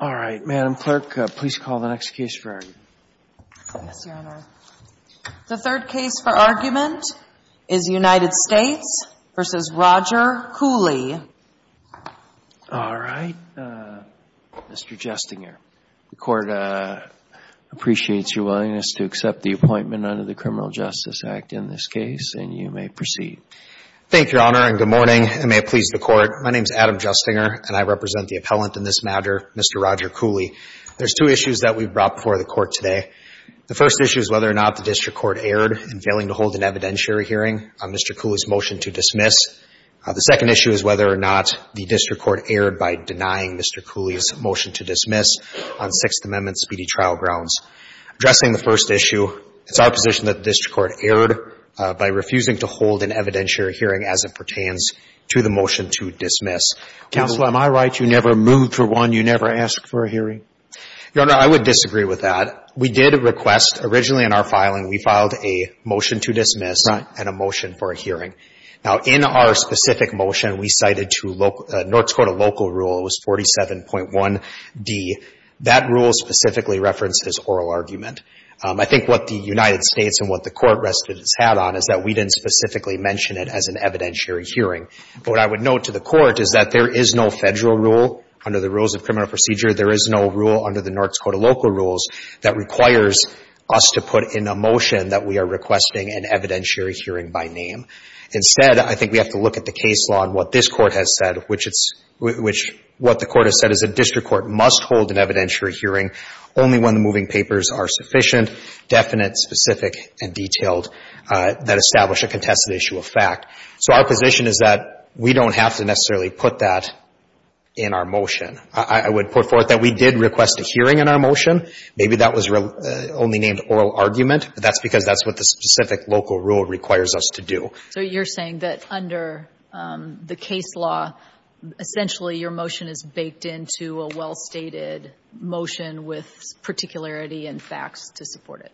All right, Madam Clerk, please call the next case for argument. Yes, Your Honor. The third case for argument is United States v. Roger Cooley. All right, Mr. Justinger. The Court appreciates your willingness to accept the appointment under the Criminal Justice Act in this case, and you may proceed. Thank you, Your Honor, and good morning, and may it please the Court. My name is Adam Justinger, and I represent the appellant in this matter, Mr. Roger Cooley. There's two issues that we've brought before the Court today. The first issue is whether or not the district court erred in failing to hold an evidentiary hearing on Mr. Cooley's motion to dismiss. The second issue is whether or not the district court erred by denying Mr. Cooley's motion to dismiss on Sixth Amendment speedy trial grounds. Addressing the first issue, it's our position that the district court erred by refusing to hold an evidentiary hearing as it pertains to the motion to dismiss. Counsel, am I right? You never moved for one? You never asked for a hearing? Your Honor, I would disagree with that. We did request. Originally in our filing, we filed a motion to dismiss and a motion for a hearing. Now, in our specific motion, we cited to North Dakota local rule. It was 47.1d. That rule specifically referenced his oral argument. I think what the United States and what the Court rested its hat on is that we didn't specifically mention it as an evidentiary hearing. But what I would note to the Court is that there is no Federal rule under the rules of criminal procedure. There is no rule under the North Dakota local rules that requires us to put in a motion that we are requesting an evidentiary hearing by name. Instead, I think we have to look at the case law and what this Court has said, which it's — which what the Court has said is a district court must hold an evidentiary hearing only when the moving papers are sufficient, definite, specific, and detailed that establish a contested issue of fact. So our position is that we don't have to necessarily put that in our motion. I would put forth that we did request a hearing in our motion. Maybe that was only named oral argument, but that's because that's what the specific local rule requires us to do. So you're saying that under the case law, essentially your motion is baked into a well-stated motion with particularity and facts to support it?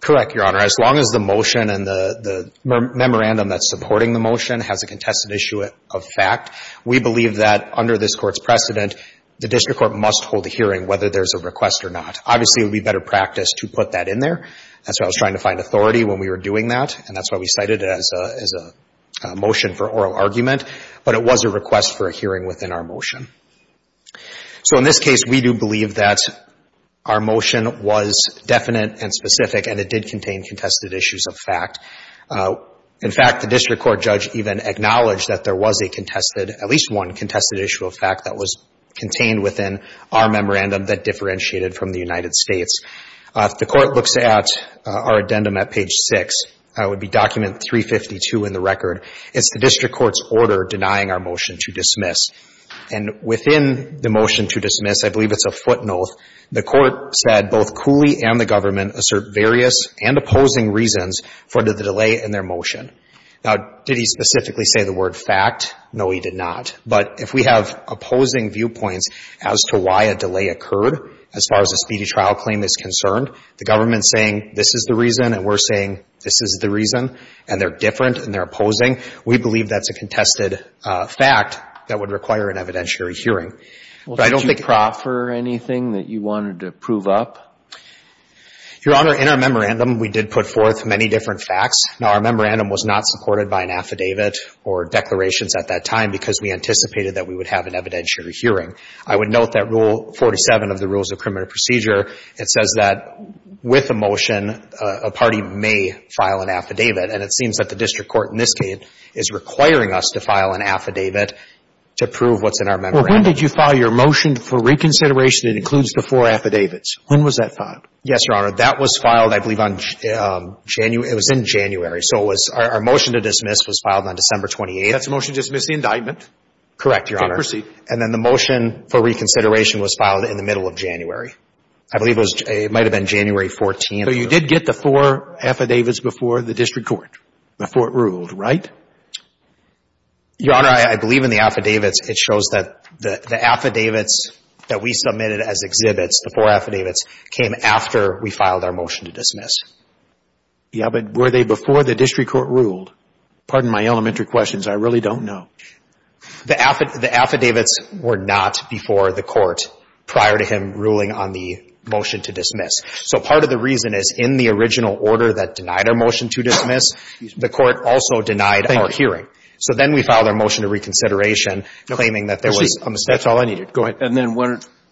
Correct, Your Honor. As long as the motion and the memorandum that's supporting the motion has a contested issue of fact, we believe that under this Court's precedent, the district court must hold a hearing whether there's a request or not. Obviously, it would be better practice to put that in there. That's why I was trying to find authority when we were doing that, and that's why we cited it as a motion for oral argument. But it was a request for a hearing within our motion. So in this case, we do believe that our motion was definite and specific, and it did contain contested issues of fact. In fact, the district court judge even acknowledged that there was a contested, at least one contested issue of fact that was contained within our memorandum that differentiated from the United States. If the Court looks at our addendum at page 6, it would be document 352 in the record. It's the district court's order denying our motion to dismiss. And within the motion to dismiss, I believe it's a footnote, the Court said both Cooley and the government assert various and opposing reasons for the delay in their motion. Now, did he specifically say the word fact? No, he did not. But if we have opposing viewpoints as to why a delay occurred as far as a speedy trial claim is concerned, the government saying this is the reason and we're saying this is the reason, and they're different and they're opposing, we believe that's a contested fact that would require an evidentiary hearing. Well, did you proffer anything that you wanted to prove up? Your Honor, in our memorandum, we did put forth many different facts. Now, our memorandum was not supported by an affidavit or declarations at that time because we anticipated that we would have an evidentiary hearing. I would note that Rule 47 of the Rules of Criminal Procedure, it says that with a motion, a party may file an affidavit. And it seems that the district court in this case is requiring us to file an affidavit to prove what's in our memorandum. Well, when did you file your motion for reconsideration that includes the four affidavits? When was that filed? Yes, Your Honor. That was filed, I believe, on January – it was in January. So it was – our motion to dismiss was filed on December 28th. That's a motion to dismiss the indictment? Correct, Your Honor. Okay. Proceed. And then the motion for reconsideration was filed in the middle of January. I believe it was – it might have been January 14th. So you did get the four affidavits before the district court, before it ruled, right? Your Honor, I believe in the affidavits. It shows that the affidavits that we submitted as exhibits, the four affidavits, came after we filed our motion to dismiss. Yeah, but were they before the district court ruled? Pardon my elementary questions. I really don't know. The affidavits were not before the court prior to him ruling on the motion to dismiss. So part of the reason is in the original order that denied our motion to dismiss, the court also denied our hearing. Thank you. So then we filed our motion to reconsideration claiming that there was a mistake. That's all I needed. Go ahead. And then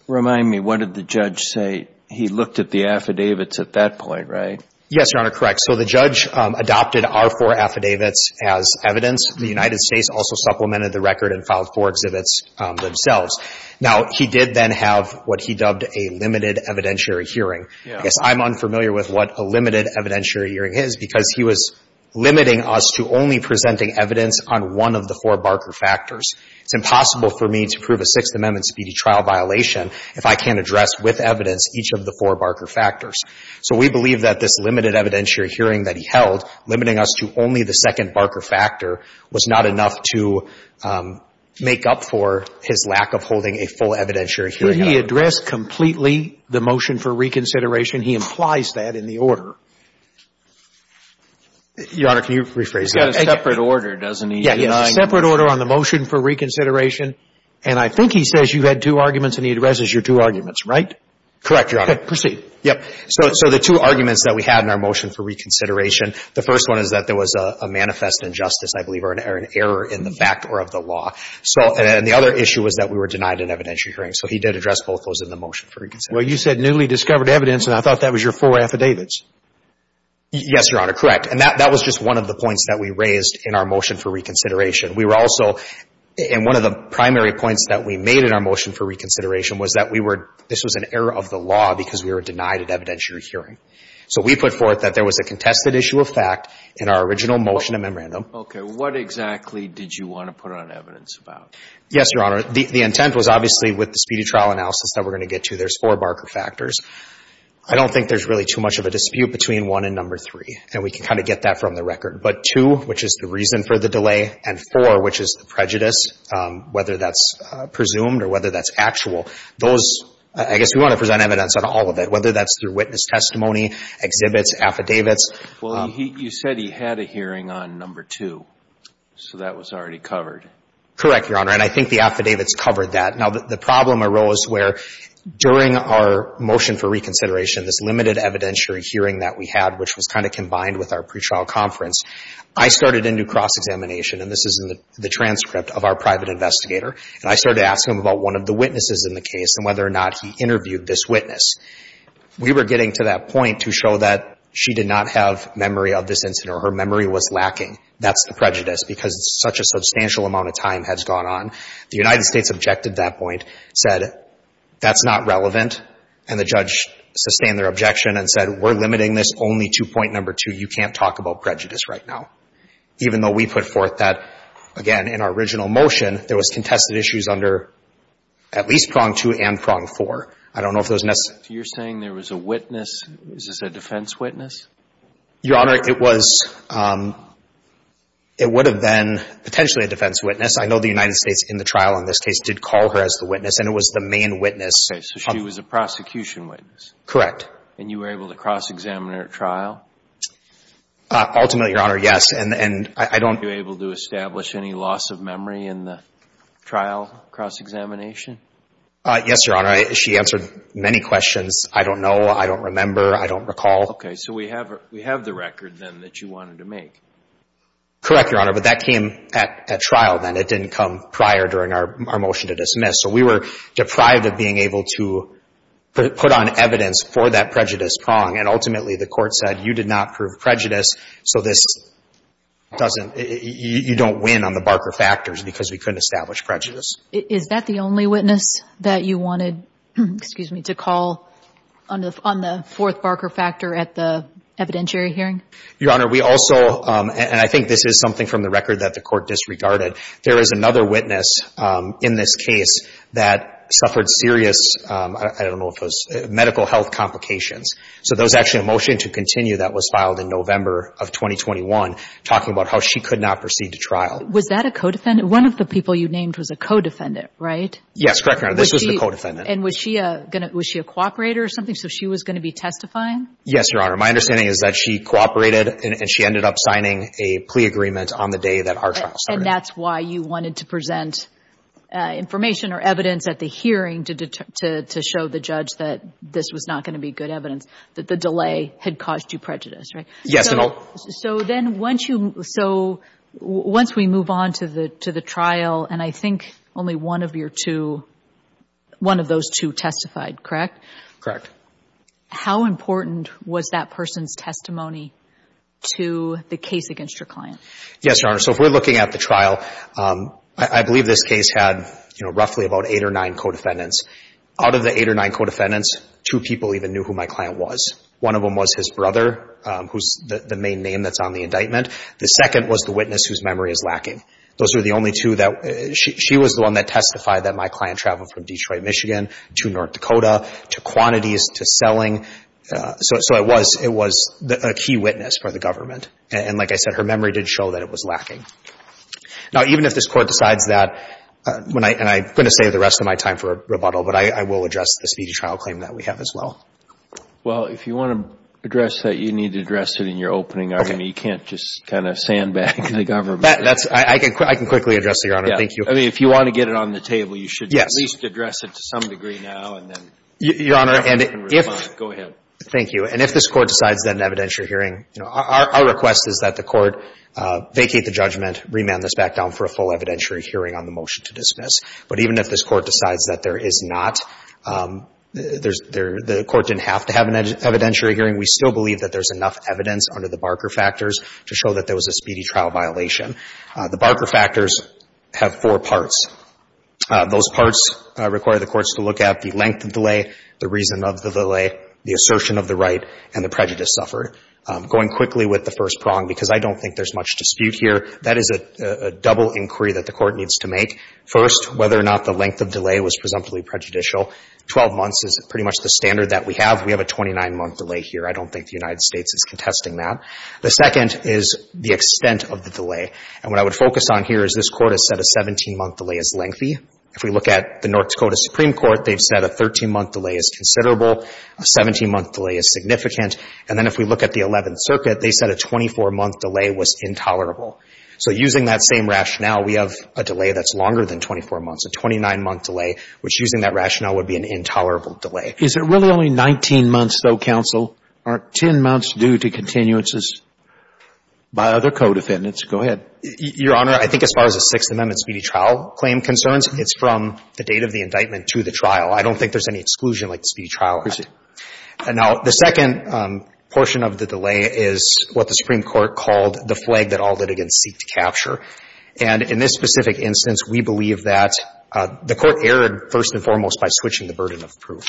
remind me, what did the judge say? He looked at the affidavits at that point, right? Yes, Your Honor, correct. So the judge adopted our four affidavits as evidence. The United States also supplemented the record and filed four exhibits themselves. Now, he did then have what he dubbed a limited evidentiary hearing. Yes. I'm unfamiliar with what a limited evidentiary hearing is because he was limiting us to only presenting evidence on one of the four Barker factors. It's impossible for me to prove a Sixth Amendment speedy trial violation if I can't address with evidence each of the four Barker factors. So we believe that this limited evidentiary hearing that he held, limiting us to only the second Barker factor, was not enough to make up for his lack of holding a full evidentiary hearing. Could he address completely the motion for reconsideration? He implies that in the order. Your Honor, can you rephrase that? It's got a separate order, doesn't he? Yes, a separate order on the motion for reconsideration. And I think he says you had two arguments and he addresses your two arguments, right? Correct, Your Honor. Proceed. Yes. So the two arguments that we had in our motion for reconsideration, the first one is that there was a manifest injustice, I believe, or an error in the fact or of the law. And the other issue was that we were denied an evidentiary hearing. So he did address both those in the motion for reconsideration. Well, you said newly discovered evidence, and I thought that was your four affidavits. Yes, Your Honor. Correct. And that was just one of the points that we raised in our motion for reconsideration. We were also – and one of the primary points that we made in our motion for reconsideration was that we were – this was an error of the law because we were denied an evidentiary hearing. So we put forth that there was a contested issue of fact in our original motion and memorandum. Okay. What exactly did you want to put on evidence about? Yes, Your Honor. The intent was obviously with the speedy trial analysis that we're going to get to, there's four Barker factors. I don't think there's really too much of a dispute between one and number three, and we can kind of get that from the record. But two, which is the reason for the delay, and four, which is the prejudice, whether that's presumed or whether that's actual. Those – I guess we want to present evidence on all of it, whether that's through witness testimony, exhibits, affidavits. Well, you said he had a hearing on number two, so that was already covered. Correct, Your Honor. And I think the affidavits covered that. Now, the problem arose where during our motion for reconsideration, this limited evidentiary hearing that we had, which was kind of combined with our pretrial conference, I started into cross-examination. And this is in the transcript of our private investigator. And I started to ask him about one of the witnesses in the case and whether or not he interviewed this witness. We were getting to that point to show that she did not have memory of this incident or her memory was lacking. That's the prejudice, because such a substantial amount of time has gone on. The United States objected to that point, said that's not relevant. And the judge sustained their objection and said we're limiting this only to point number two, you can't talk about prejudice right now. Even though we put forth that, again, in our original motion, there was contested issues under at least prong two and prong four. I don't know if those necessary. So you're saying there was a witness, is this a defense witness? Your Honor, it was, it would have been potentially a defense witness. I know the United States in the trial in this case did call her as the witness, and it was the main witness. Okay. So she was a prosecution witness. Correct. And you were able to cross-examine her at trial? Ultimately, Your Honor, yes. And I don't. Were you able to establish any loss of memory in the trial cross-examination? Yes, Your Honor. She answered many questions. I don't know. I don't remember. I don't recall. Okay. So we have the record then that you wanted to make. Correct, Your Honor. But that came at trial then. It didn't come prior during our motion to dismiss. So we were deprived of being able to put on evidence for that prejudice prong. And ultimately, the court said, you did not prove prejudice, so this doesn't, you don't win on the Barker factors because we couldn't establish prejudice. Is that the only witness that you wanted, excuse me, to call on the fourth Barker factor at the evidentiary hearing? Your Honor, we also, and I think this is something from the record that the court disregarded, there is another witness in this case that suffered serious, I don't know if it was medical health complications. So there was actually a motion to continue that was filed in November of 2021, talking about how she could not proceed to trial. Was that a co-defendant? One of the people you named was a co-defendant, right? Yes, correct, Your Honor. This was the co-defendant. And was she a cooperator or something? So she was going to be testifying? Yes, Your Honor. My understanding is that she cooperated and she ended up signing a plea agreement on the day that our trial started. And that's why you wanted to present information or evidence at the hearing to show the judge that this was not going to be good evidence, that the delay had caused you prejudice, right? Yes. So then once we move on to the trial, and I think only one of those two testified, correct? Correct. How important was that person's testimony to the case against your client? Yes, Your Honor. So if we're looking at the trial, I believe this case had roughly about eight or nine co-defendants. Out of the eight or nine co-defendants, two people even knew who my client was. One of them was his brother, who's the main name that's on the indictment. The second was the witness whose memory is lacking. Those were the only two that – she was the one that testified that my client traveled from Detroit, Michigan, to North Dakota, to quantities, to selling. So it was a key witness for the government. And, like I said, her memory did show that it was lacking. Now, even if this Court decides that, and I'm going to save the rest of my time for rebuttal, but I will address the speedy trial claim that we have as well. Well, if you want to address that, you need to address it in your opening argument. You can't just kind of sandbag the government. I can quickly address it, Your Honor. Thank you. I mean, if you want to get it on the table, you should at least address it to some degree now and then respond. Go ahead. Thank you. And if this Court decides that an evidentiary hearing – our request is that the Court vacate the judgment, remand this back down for a full evidentiary hearing on the motion to dismiss. But even if this Court decides that there is not – the Court didn't have to have an evidentiary hearing, we still believe that there's enough evidence under the Barker factors to show that there was a speedy trial violation. The Barker factors have four parts. Those parts require the courts to look at the length of delay, the reason of the delay, the assertion of the right, and the prejudice suffered. Going quickly with the first prong, because I don't think there's much dispute here, that is a double inquiry that the Court needs to make. First, whether or not the length of delay was presumptively prejudicial. Twelve months is pretty much the standard that we have. We have a 29-month delay here. I don't think the United States is contesting that. The second is the extent of the delay. And what I would focus on here is this Court has said a 17-month delay is lengthy. If we look at the North Dakota Supreme Court, they've said a 13-month delay is considerable. A 17-month delay is significant. And then if we look at the Eleventh Circuit, they said a 24-month delay was intolerable. So using that same rationale, we have a delay that's longer than 24 months, a 29-month delay, which, using that rationale, would be an intolerable delay. Is it really only 19 months, though, counsel, or 10 months due to continuances by other co-defendants? Go ahead. Your Honor, I think as far as the Sixth Amendment speedy trial claim concerns, it's from the date of the indictment to the trial. I don't think there's any exclusion like the speedy trial act. Proceed. Now, the second portion of the delay is what the Supreme Court called the flag that all litigants seek to capture. And in this specific instance, we believe that the Court erred first and foremost by switching the burden of proof.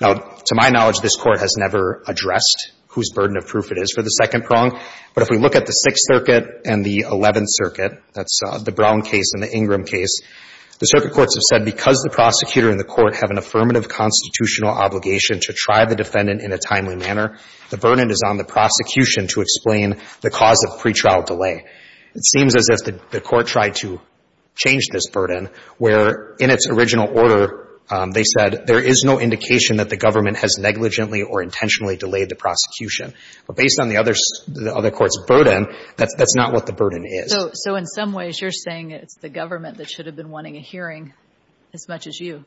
Now, to my knowledge, this Court has never addressed whose burden of proof it is for the second prong. But if we look at the Sixth Circuit and the Eleventh Circuit, that's the Brown case and the Ingram case, the circuit courts have said because the prosecutor and the court have an affirmative constitutional obligation to try the defendant in a timely manner, the burden is on the prosecution to explain the cause of pretrial delay. It seems as if the Court tried to change this burden, where in its original order they said there is no indication that the government has negligently or intentionally delayed the prosecution. But based on the other court's burden, that's not what the burden is. So in some ways, you're saying it's the government that should have been wanting a hearing as much as you.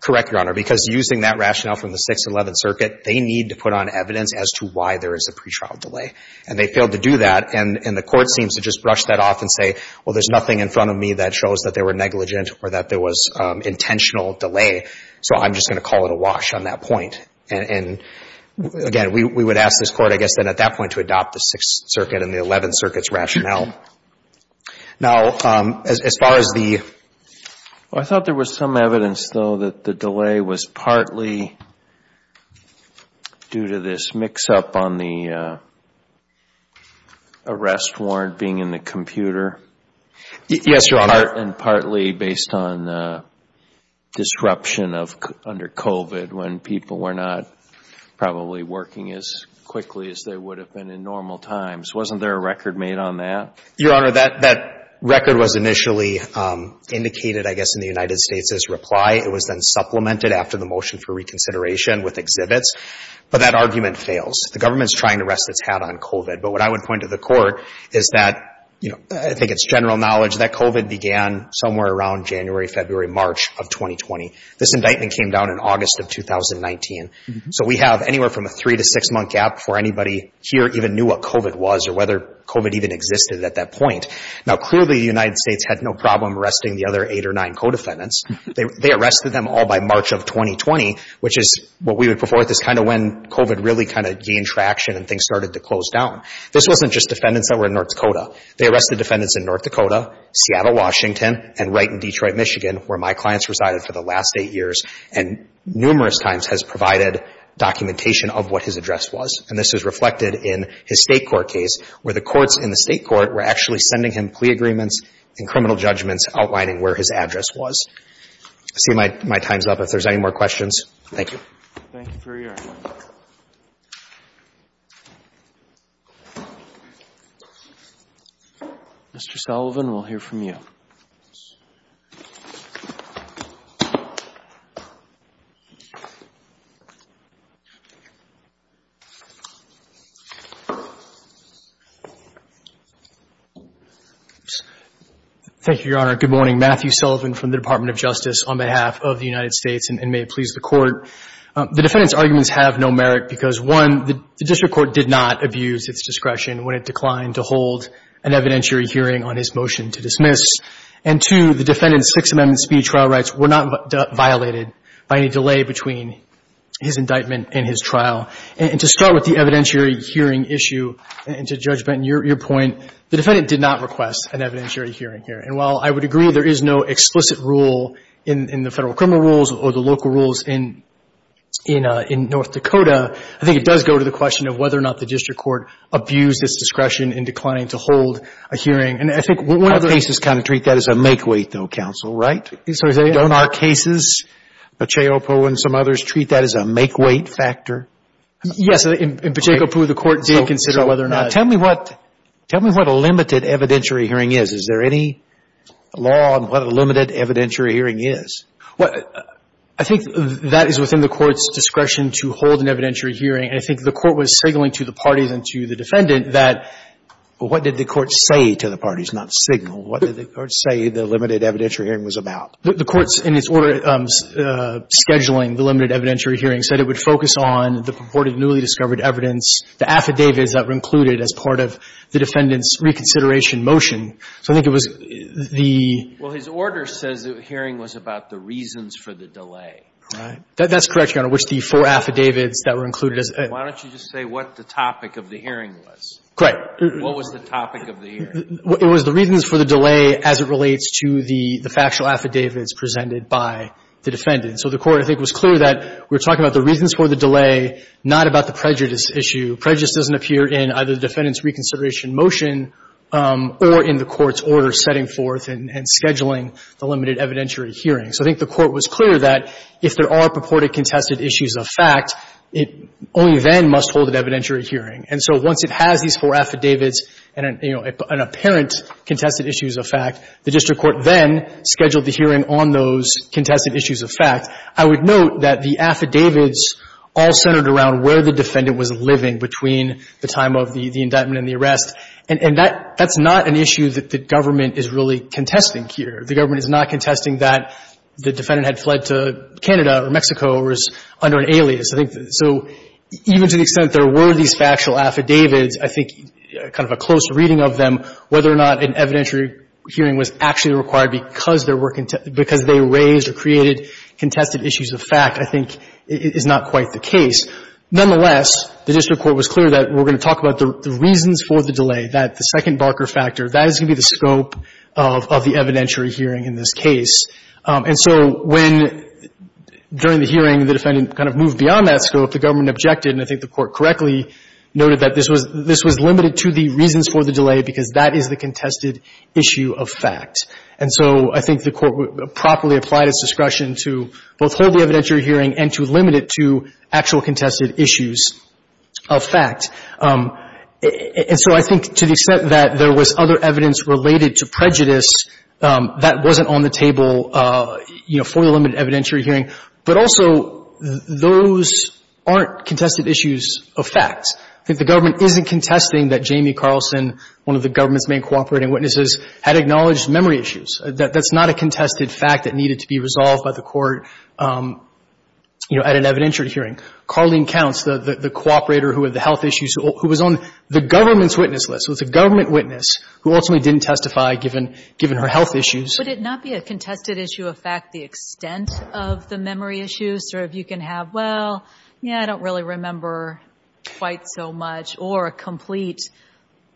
Correct, Your Honor. Because using that rationale from the Sixth and Eleventh Circuit, they need to put on evidence as to why there is a pretrial delay. And they failed to do that. And the Court seems to just brush that off and say, well, there's nothing in front of me that shows that they were negligent or that there was intentional delay, so I'm just going to call it a wash on that point. And, again, we would ask this Court, I guess, then at that point to adopt the Sixth Circuit and the Eleventh Circuit's rationale. Now, as far as the... I thought there was some evidence, though, that the delay was partly due to this mix-up on the arrest warrant being in the computer. Yes, Your Honor. And partly based on disruption under COVID when people were not probably working as quickly as they would have been in normal times. Wasn't there a record made on that? Your Honor, that record was initially indicated, I guess, in the United States as reply. It was then supplemented after the motion for reconsideration with exhibits. But that argument fails. The government is trying to rest its hat on COVID. But what I would point to the Court is that, you know, I think it's general knowledge that COVID began somewhere around January, February, March of 2020. This indictment came down in August of 2019. So we have anywhere from a three- to six-month gap before anybody here even knew what COVID was or whether COVID even existed at that point. Now, clearly, the United States had no problem arresting the other eight or nine co-defendants. They arrested them all by March of 2020, which is what we would put forth as kind of when COVID really kind of gained traction and things started to close down. This wasn't just defendants that were in North Dakota. They arrested defendants in North Dakota, Seattle, Washington, and right in Detroit, Michigan, where my clients resided for the last eight years and numerous times has provided documentation of what his address was. And this is reflected in his State court case where the courts in the State court were actually sending him plea agreements and criminal judgments outlining where his address was. I see my time's up. If there's any more questions, thank you. Thank you for your time. Mr. Sullivan, we'll hear from you. Thank you, Your Honor. Good morning. Matthew Sullivan from the Department of Justice on behalf of the United States, and may it please the Court, the defendants' arguments have no merit because, one, the district court did not abuse its discretion when it declined to hold an evidentiary hearing on his motion to dismiss. And, two, the defendant's Sixth Amendment speed trial rights were not violated by any delay between his indictment and his trial. And to start with the evidentiary hearing issue, and to Judge Benton, your point, the defendant did not request an evidentiary hearing here. And while I would agree there is no explicit rule in the Federal criminal rules or the Federal criminal law in North Dakota, I think it does go to the question of whether or not the district court abused its discretion in declining to hold a hearing. And I think one of the cases kind of treat that as a make-wait, though, counsel, right? Don't our cases, Bacheopu and some others, treat that as a make-wait factor? Yes. In Bacheopu, the Court did consider whether or not. Tell me what a limited evidentiary hearing is. Is there any law on what a limited evidentiary hearing is? Well, I think that is within the Court's discretion to hold an evidentiary hearing, and I think the Court was signaling to the parties and to the defendant that what did the Court say to the parties, not signal? What did the Court say the limited evidentiary hearing was about? The Court, in its order scheduling the limited evidentiary hearing, said it would focus on the purported newly discovered evidence, the affidavits that were included as part of the defendant's reconsideration motion. So I think it was the — Well, his order says the hearing was about the reasons for the delay. Right. That's correct, Your Honor, which the four affidavits that were included as — Why don't you just say what the topic of the hearing was? Correct. What was the topic of the hearing? It was the reasons for the delay as it relates to the factual affidavits presented by the defendant. So the Court, I think, was clear that we're talking about the reasons for the delay, not about the prejudice issue. Prejudice doesn't appear in either the defendant's reconsideration motion or in the Court's order setting forth and scheduling the limited evidentiary hearing. So I think the Court was clear that if there are purported contested issues of fact, it only then must hold an evidentiary hearing. And so once it has these four affidavits and, you know, an apparent contested issues of fact, the district court then scheduled the hearing on those contested issues of fact. I would note that the affidavits all centered around where the defendant was living between the time of the indictment and the arrest. And that's not an issue that the government is really contesting here. The government is not contesting that the defendant had fled to Canada or Mexico or is under an alias. So even to the extent there were these factual affidavits, I think kind of a close reading of them, whether or not an evidentiary hearing was actually required because they raised or created contested issues of fact I think is not quite the case. Nonetheless, the district court was clear that we're going to talk about the reasons for the delay, that the second Barker factor, that is going to be the scope of the evidentiary hearing in this case. And so when, during the hearing, the defendant kind of moved beyond that scope, the government objected, and I think the Court correctly noted that this was limited to the reasons for the delay because that is the contested issue of fact. And so I think the Court properly applied its discretion to both hold the evidentiary hearing and to limit it to actual contested issues of fact. And so I think to the extent that there was other evidence related to prejudice, that wasn't on the table, you know, for the limited evidentiary hearing. But also, those aren't contested issues of fact. I think the government isn't contesting that Jamie Carlson, one of the government's main cooperating witnesses, had acknowledged memory issues. That's not a contested fact that needed to be resolved by the Court, you know, at an evidentiary hearing. Carlene Counts, the cooperator who had the health issues, who was on the government's witness list, was a government witness who ultimately didn't testify given her health issues. Would it not be a contested issue of fact the extent of the memory issues? Or if you can have, well, yeah, I don't really remember quite so much, or a complete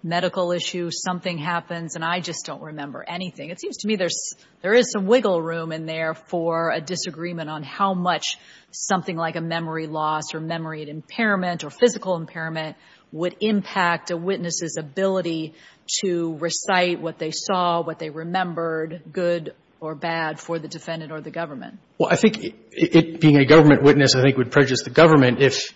medical issue, something happens and I just don't remember anything. It seems to me there is some wiggle room in there for a disagreement on how much something like a memory loss or memory impairment or physical impairment would impact a witness's ability to recite what they saw, what they remembered, good or bad, for the defendant or the government. Well, I think it being a government witness, I think, would prejudice the government if,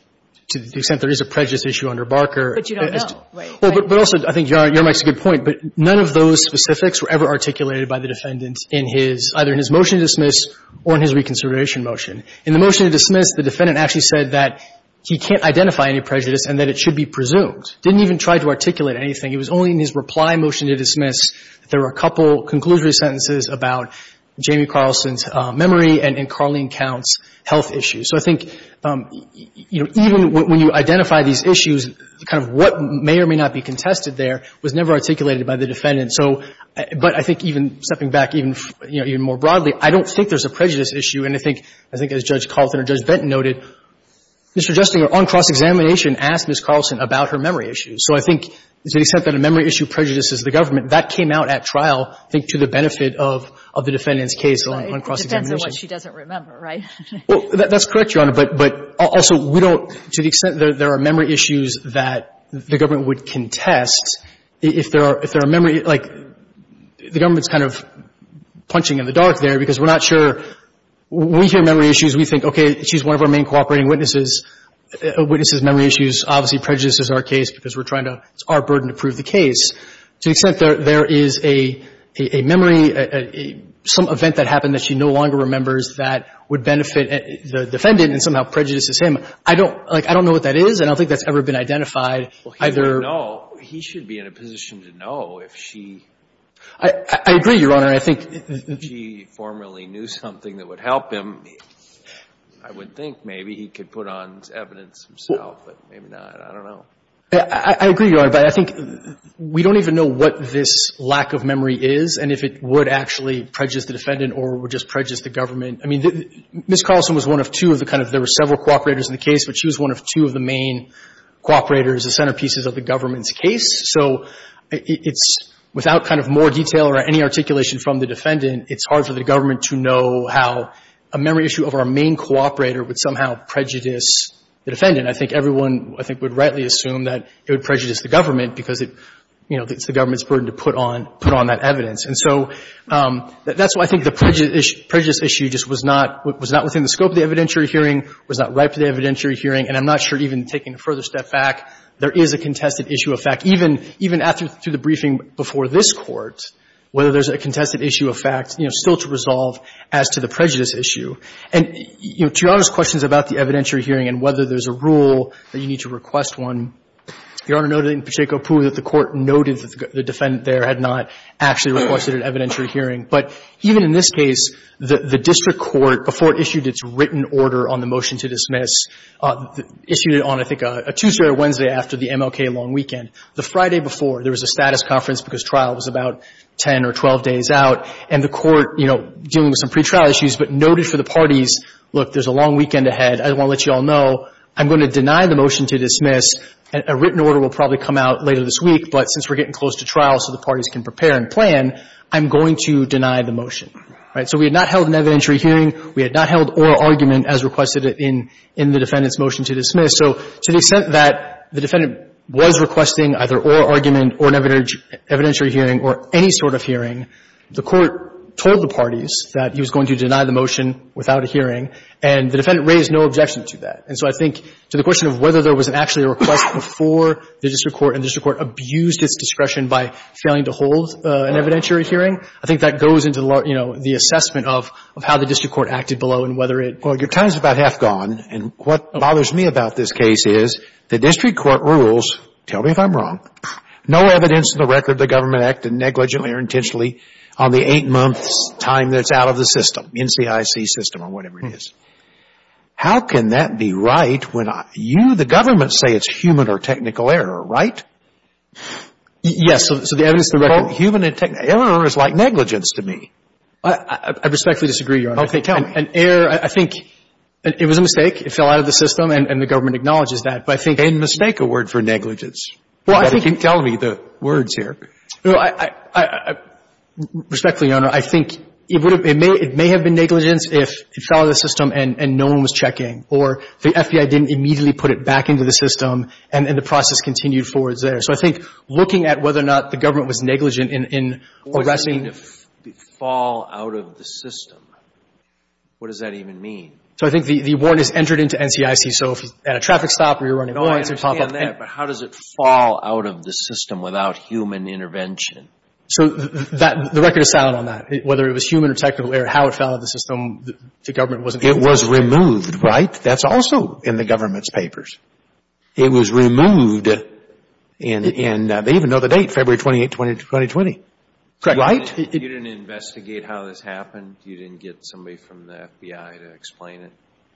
to the extent there is a prejudice issue under Barker. But you don't know, right? Well, but also, I think Your Honor, Your Honor makes a good point, but none of those specifics were ever articulated by the defendant in his, either in his motion to dismiss or in his reconsideration motion. In the motion to dismiss, the defendant actually said that he can't identify any prejudice and that it should be presumed. Didn't even try to articulate anything. It was only in his reply motion to dismiss that there were a couple conclusory sentences about Jamie Carlson's memory and Carlene Counts' health issues. So I think, you know, even when you identify these issues, kind of what may or may not be contested there was never articulated by the defendant. So, but I think even stepping back even, you know, even more broadly, I don't think there's a prejudice issue. And I think, I think as Judge Carlson or Judge Benton noted, Mr. Justinger on cross-examination asked Ms. Carlson about her memory issues. So I think to the extent that a memory issue prejudices the government, that came out at trial, I think to the benefit of the defendant's case on cross-examination. That's what she doesn't remember, right? Well, that's correct, Your Honor. But also, we don't, to the extent that there are memory issues that the government would contest, if there are, if there are memory, like, the government's kind of punching in the dark there because we're not sure. When we hear memory issues, we think, okay, she's one of our main cooperating witnesses. A witness's memory issues obviously prejudices our case because we're trying to, it's our burden to prove the case. To the extent that there is a memory, some event that happened that she no longer remembers that would benefit the defendant and somehow prejudices him, I don't, like, I don't know what that is. And I don't think that's ever been identified either. Well, he should know. He should be in a position to know if she. I agree, Your Honor. I think. If she formerly knew something that would help him, I would think maybe he could put on evidence himself. But maybe not. I don't know. I agree, Your Honor. But I think we don't even know what this lack of memory is and if it would actually prejudice the defendant or would just prejudice the government. I mean, Ms. Carlson was one of two of the kind of, there were several cooperators in the case, but she was one of two of the main cooperators, the centerpieces of the government's case. So it's, without kind of more detail or any articulation from the defendant, it's hard for the government to know how a memory issue of our main cooperator would somehow prejudice the defendant. I think everyone, I think, would rightly assume that it would prejudice the government because it's the government's burden to put on that evidence. And so that's why I think the prejudice issue just was not within the scope of the evidentiary hearing, was not ripe to the evidentiary hearing, and I'm not sure even taking a further step back, there is a contested issue of fact. Even after the briefing before this Court, whether there's a contested issue of fact still to resolve as to the prejudice issue. And, you know, to Your Honor's questions about the evidentiary hearing and whether there's a rule that you need to request one, Your Honor noted in Pacheco-Apoo that the Court noted that the defendant there had not actually requested an evidentiary hearing. But even in this case, the district court, before it issued its written order on the motion to dismiss, issued it on, I think, a Tuesday or Wednesday after the MLK long weekend. The Friday before, there was a status conference because trial was about 10 or 12 days out, and the Court, you know, dealing with some pretrial issues, but noted for the parties, look, there's a long weekend ahead, I don't want to let you all know, I'm going to deny the motion to dismiss, and a written order will probably come out later this week, but since we're getting close to trial so the parties can prepare and plan, I'm going to deny the motion, right? So we had not held an evidentiary hearing. We had not held oral argument as requested in the defendant's motion to dismiss. So to the extent that the defendant was requesting either oral argument or an evidentiary hearing or any sort of hearing, the Court told the parties that he was going to deny the motion without a hearing, and the defendant raised no objection to that. And so I think to the question of whether there was actually a request before the district court, and the district court abused its discretion by failing to hold an evidentiary hearing, I think that goes into, you know, the assessment of how the district court acted below and whether it was. Well, your time is about half gone, and what bothers me about this case is the district court rules, tell me if I'm wrong, no evidence in the record of the government neglecting or intentionally on the eight months' time that's out of the system, NCIC system or whatever it is, how can that be right when you, the government, say it's human or technical error, right? Yes. So the evidence in the record. Human and technical. Error is like negligence to me. I respectfully disagree, Your Honor. Okay. Tell me. An error, I think it was a mistake. It fell out of the system, and the government acknowledges that. But I think they didn't mistake a word for negligence. Well, I think you can tell me the words here. Well, I respectfully, Your Honor, I think it may have been negligence if it fell out of the system and no one was checking, or the FBI didn't immediately put it back into the system, and the process continued forward there. So I think looking at whether or not the government was negligent in arresting The warrant is going to fall out of the system. What does that even mean? So I think the warrant is entered into NCIC. So if it's at a traffic stop or you're running by, it's going to pop up. I understand that, but how does it fall out of the system without human intervention? So the record is solid on that. Whether it was human or technical error, how it fell out of the system, the government wasn't It was removed, right? That's also in the government's papers. It was removed, and they even know the date, February 28, 2020. Correct. Right? You didn't investigate how this happened? You didn't get somebody from the FBI to explain it?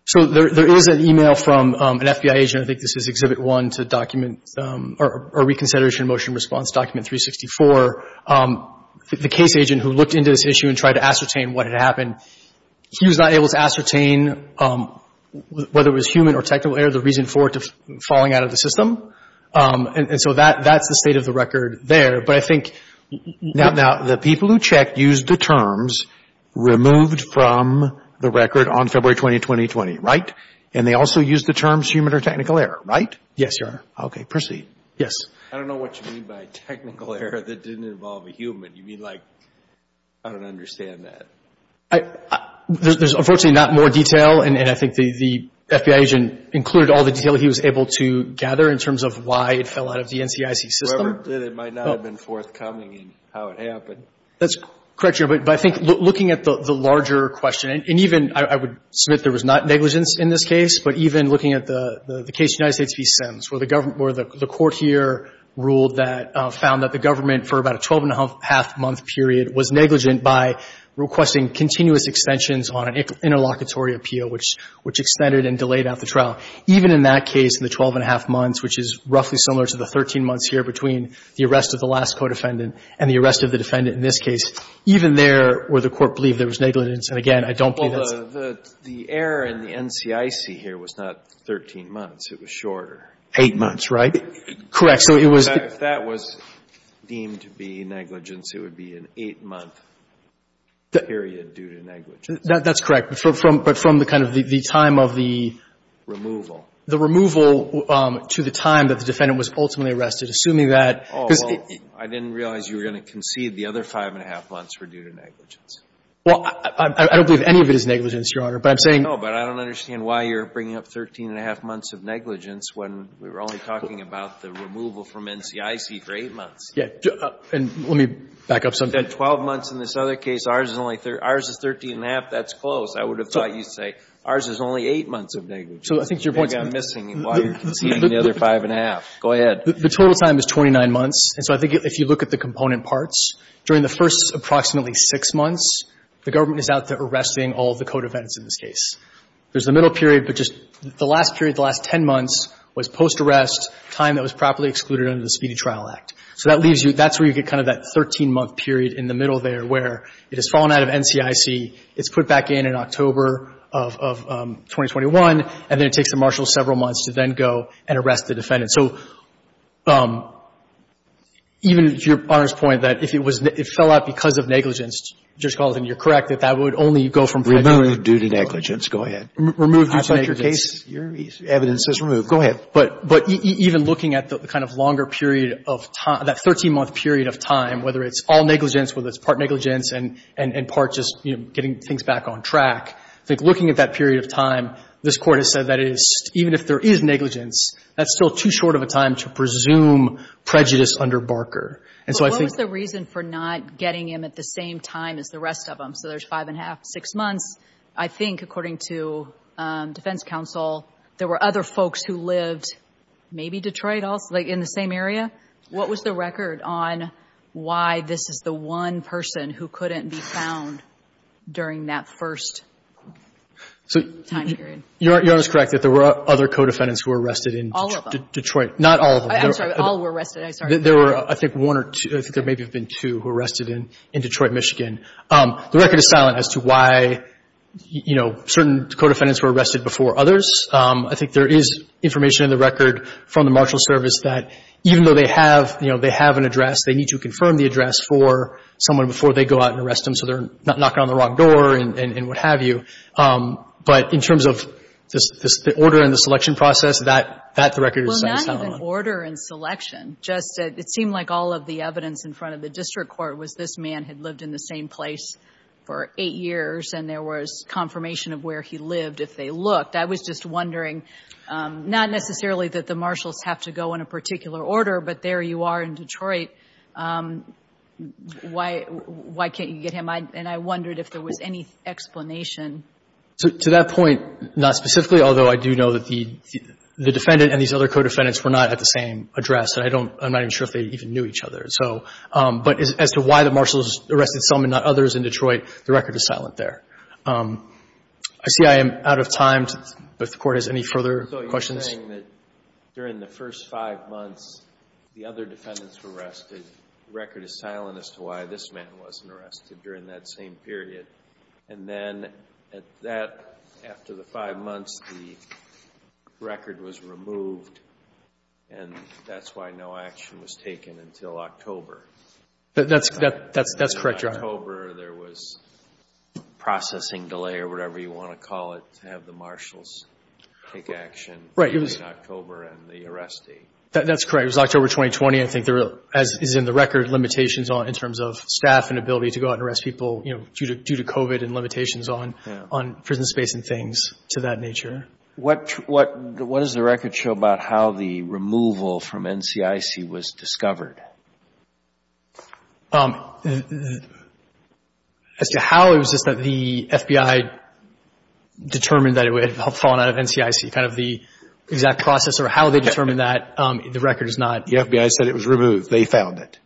So there is an e-mail from an FBI agent, I think this is Exhibit 1 to document or reconsideration motion response document 364. The case agent who looked into this issue and tried to ascertain what had happened, he was not able to ascertain whether it was human or technical error, the reason for it falling out of the system. And so that's the state of the record there. But I think Now, the people who checked used the terms removed from the record on February 20, 2020, right? And they also used the terms human or technical error, right? Yes, Your Honor. Okay, proceed. Yes. I don't know what you mean by technical error that didn't involve a human. You mean like, I don't understand that. There's unfortunately not more detail, and I think the FBI agent included all the detail he was able to gather in terms of why it fell out of the NCIC system. Whoever did it might not have been forthcoming in how it happened. That's correct, Your Honor. But I think looking at the larger question, and even I would submit there was not negligence in this case, but even looking at the case of the United States v. Sims, where the government, where the court here ruled that, found that the government for about a 12-and-a-half-month period was negligent by requesting continuous extensions on an interlocutory appeal, which extended and delayed after trial. Even in that case, in the 12-and-a-half months, which is roughly similar to the 13 months here between the arrest of the last co-defendant and the arrest of the defendant in this case, even there where the court believed there was negligence. And again, I don't believe that's the case. Well, the error in the NCIC here was not 13 months. It was shorter. Eight months, right? Correct. So it was the — If that was deemed to be negligence, it would be an eight-month period due to negligence. That's correct. But from the kind of the time of the — Removal. The removal to the time that the defendant was ultimately arrested, assuming that — Oh. I didn't realize you were going to concede the other five-and-a-half months were due to negligence. Well, I don't believe any of it is negligence, Your Honor, but I'm saying — No, but I don't understand why you're bringing up 13-and-a-half months of negligence when we were only talking about the removal from NCIC for eight months. Yeah. And let me back up something. The 12 months in this other case, ours is only — ours is 13-and-a-half. That's close. I would have thought you'd say, ours is only eight months of negligence. So I think your point is — Maybe I'm missing while you're conceding the other five-and-a-half. Go ahead. The total time is 29 months. And so I think if you look at the component parts, during the first approximately six months, the government is out there arresting all the code events in this case. There's the middle period, but just the last period, the last 10 months, was post-arrest, time that was properly excluded under the Speedy Trial Act. So that leaves you — that's where you get kind of that 13-month period in the middle there where it has fallen out of NCIC, it's put back in in October of 2021, and then it takes the marshal several months to then go and arrest the defendant. So even to Your Honor's point that if it was — it fell out because of negligence, Judge Gallatin, you're correct, that that would only go from prejudice. Removed due to negligence. Go ahead. Removed due to negligence. I thought your case — your evidence says removed. Go ahead. But even looking at the kind of longer period of time, that 13-month period of time, whether it's all negligence, whether it's part negligence and part just getting things back on track, I think looking at that period of time, this Court has said that it is — even if there is negligence, that's still too short of a time to presume prejudice under Barker. And so I think — But what was the reason for not getting him at the same time as the rest of them? So there's five-and-a-half, six months. I think, according to defense counsel, there were other folks who lived maybe Detroit also, like in the same area. What was the record on why this is the one person who couldn't be found during that first time period? Your Honor's correct that there were other co-defendants who were arrested in Detroit. All of them. Not all of them. I'm sorry. All were arrested. I'm sorry. There were, I think, one or two. I think there may have been two who were arrested in Detroit, Michigan. The record is silent as to why, you know, certain co-defendants were arrested before others. I think there is information in the record from the Marshal Service that even though they have, you know, they have an address, they need to confirm the address for someone before they go out and arrest them so they're not knocking on the wrong door and what have you. But in terms of the order and the selection process, that record is silent. Well, not even order and selection. Just it seemed like all of the evidence in front of the district court was this man had lived in the same place for eight years and there was confirmation of where he lived if they looked. I was just wondering, not necessarily that the Marshals have to go in a particular order, but there you are in Detroit. Why can't you get him? And I wondered if there was any explanation. To that point, not specifically, although I do know that the defendant and these other co-defendants were not at the same address. And I don't, I'm not even sure if they even knew each other. So, but as to why the Marshals arrested some and not others in Detroit, the record is silent there. I see I am out of time. If the Court has any further questions. So you're saying that during the first five months the other defendants were arrested, the record is silent as to why this man wasn't arrested during that same period. And then at that, after the five months, the record was removed and that's why no action was taken until October. That's correct, Your Honor. October there was processing delay or whatever you want to call it to have the Marshals take action between October and the arrest date. That's correct. It was October 2020. I think there, as is in the record, limitations in terms of staff and ability to go out and arrest people due to COVID and limitations on prison space and things to that nature. What does the record show about how the removal from NCIC was discovered? As to how, it was just that the FBI determined that it had fallen out of NCIC. Kind of the exact process or how they determined that, the record is not. The FBI said it was removed. They found it.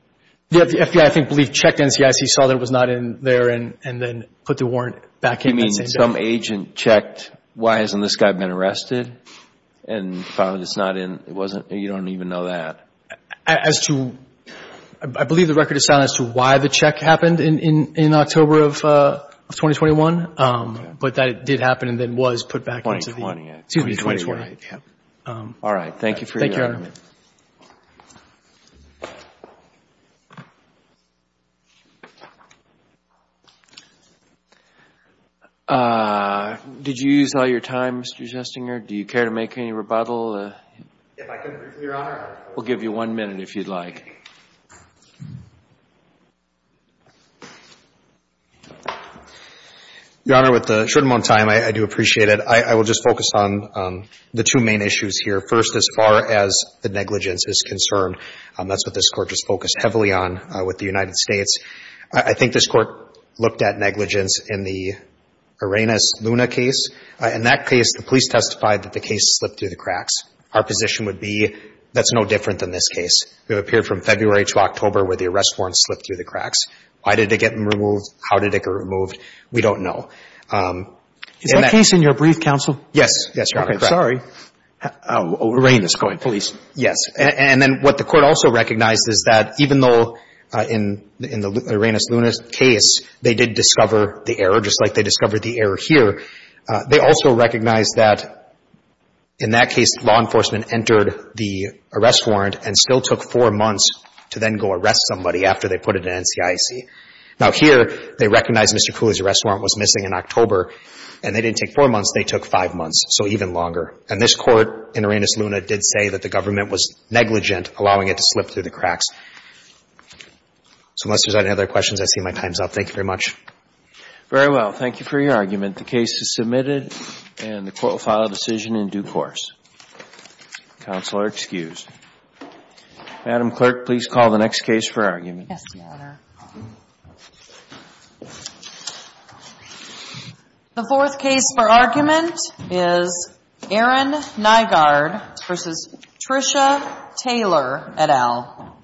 The FBI, I think, checked NCIC, saw that it was not in there and then put the warrant back in that same day. You mean some agent checked why hasn't this guy been arrested and found it's not in, it wasn't, you don't even know that. As to, I believe the record is silent as to why the check happened in October of 2021, but that it did happen and then was put back into the year 2021. All right. Thank you for your time. Thank you, Your Honor. Did you use all your time, Mr. Jestinger? Do you care to make any rebuttal? If I could, Your Honor. We'll give you one minute if you'd like. Your Honor, with the short amount of time, I do appreciate it. I will just focus on the two main issues here. First, as far as the negligence is concerned, that's what this Court just focused heavily on with the United States. I think this Court looked at negligence in the Arenas Luna case. In that case, the police testified that the case slipped through the cracks. Our position would be that's no different than this case. It appeared from February to October where the arrest warrant slipped through the cracks. Why did it get removed? How did it get removed? We don't know. Is that case in your brief, counsel? Yes. Yes, Your Honor. Sorry. Arenas, go ahead. Police. Yes. And then what the Court also recognized is that even though in the Arenas Luna case, they did discover the error, just like they discovered the error here, they also recognized that in that case law enforcement entered the arrest warrant and still took four months to then go arrest somebody after they put it in NCIC. Now, here, they recognize Mr. Cooley's arrest warrant was missing in October, and they didn't take four months. They took five months, so even longer. And this Court in Arenas Luna did say that the government was negligent, allowing it to slip through the cracks. So unless there's any other questions, I see my time's up. Thank you very much. Very well. Thank you for your argument. The case is submitted and the Court will file a decision in due course. Counsel are excused. Madam Clerk, please call the next case for argument. Yes, Your Honor. The fourth case for argument is Aaron Nygaard v. Tricia Taylor et al.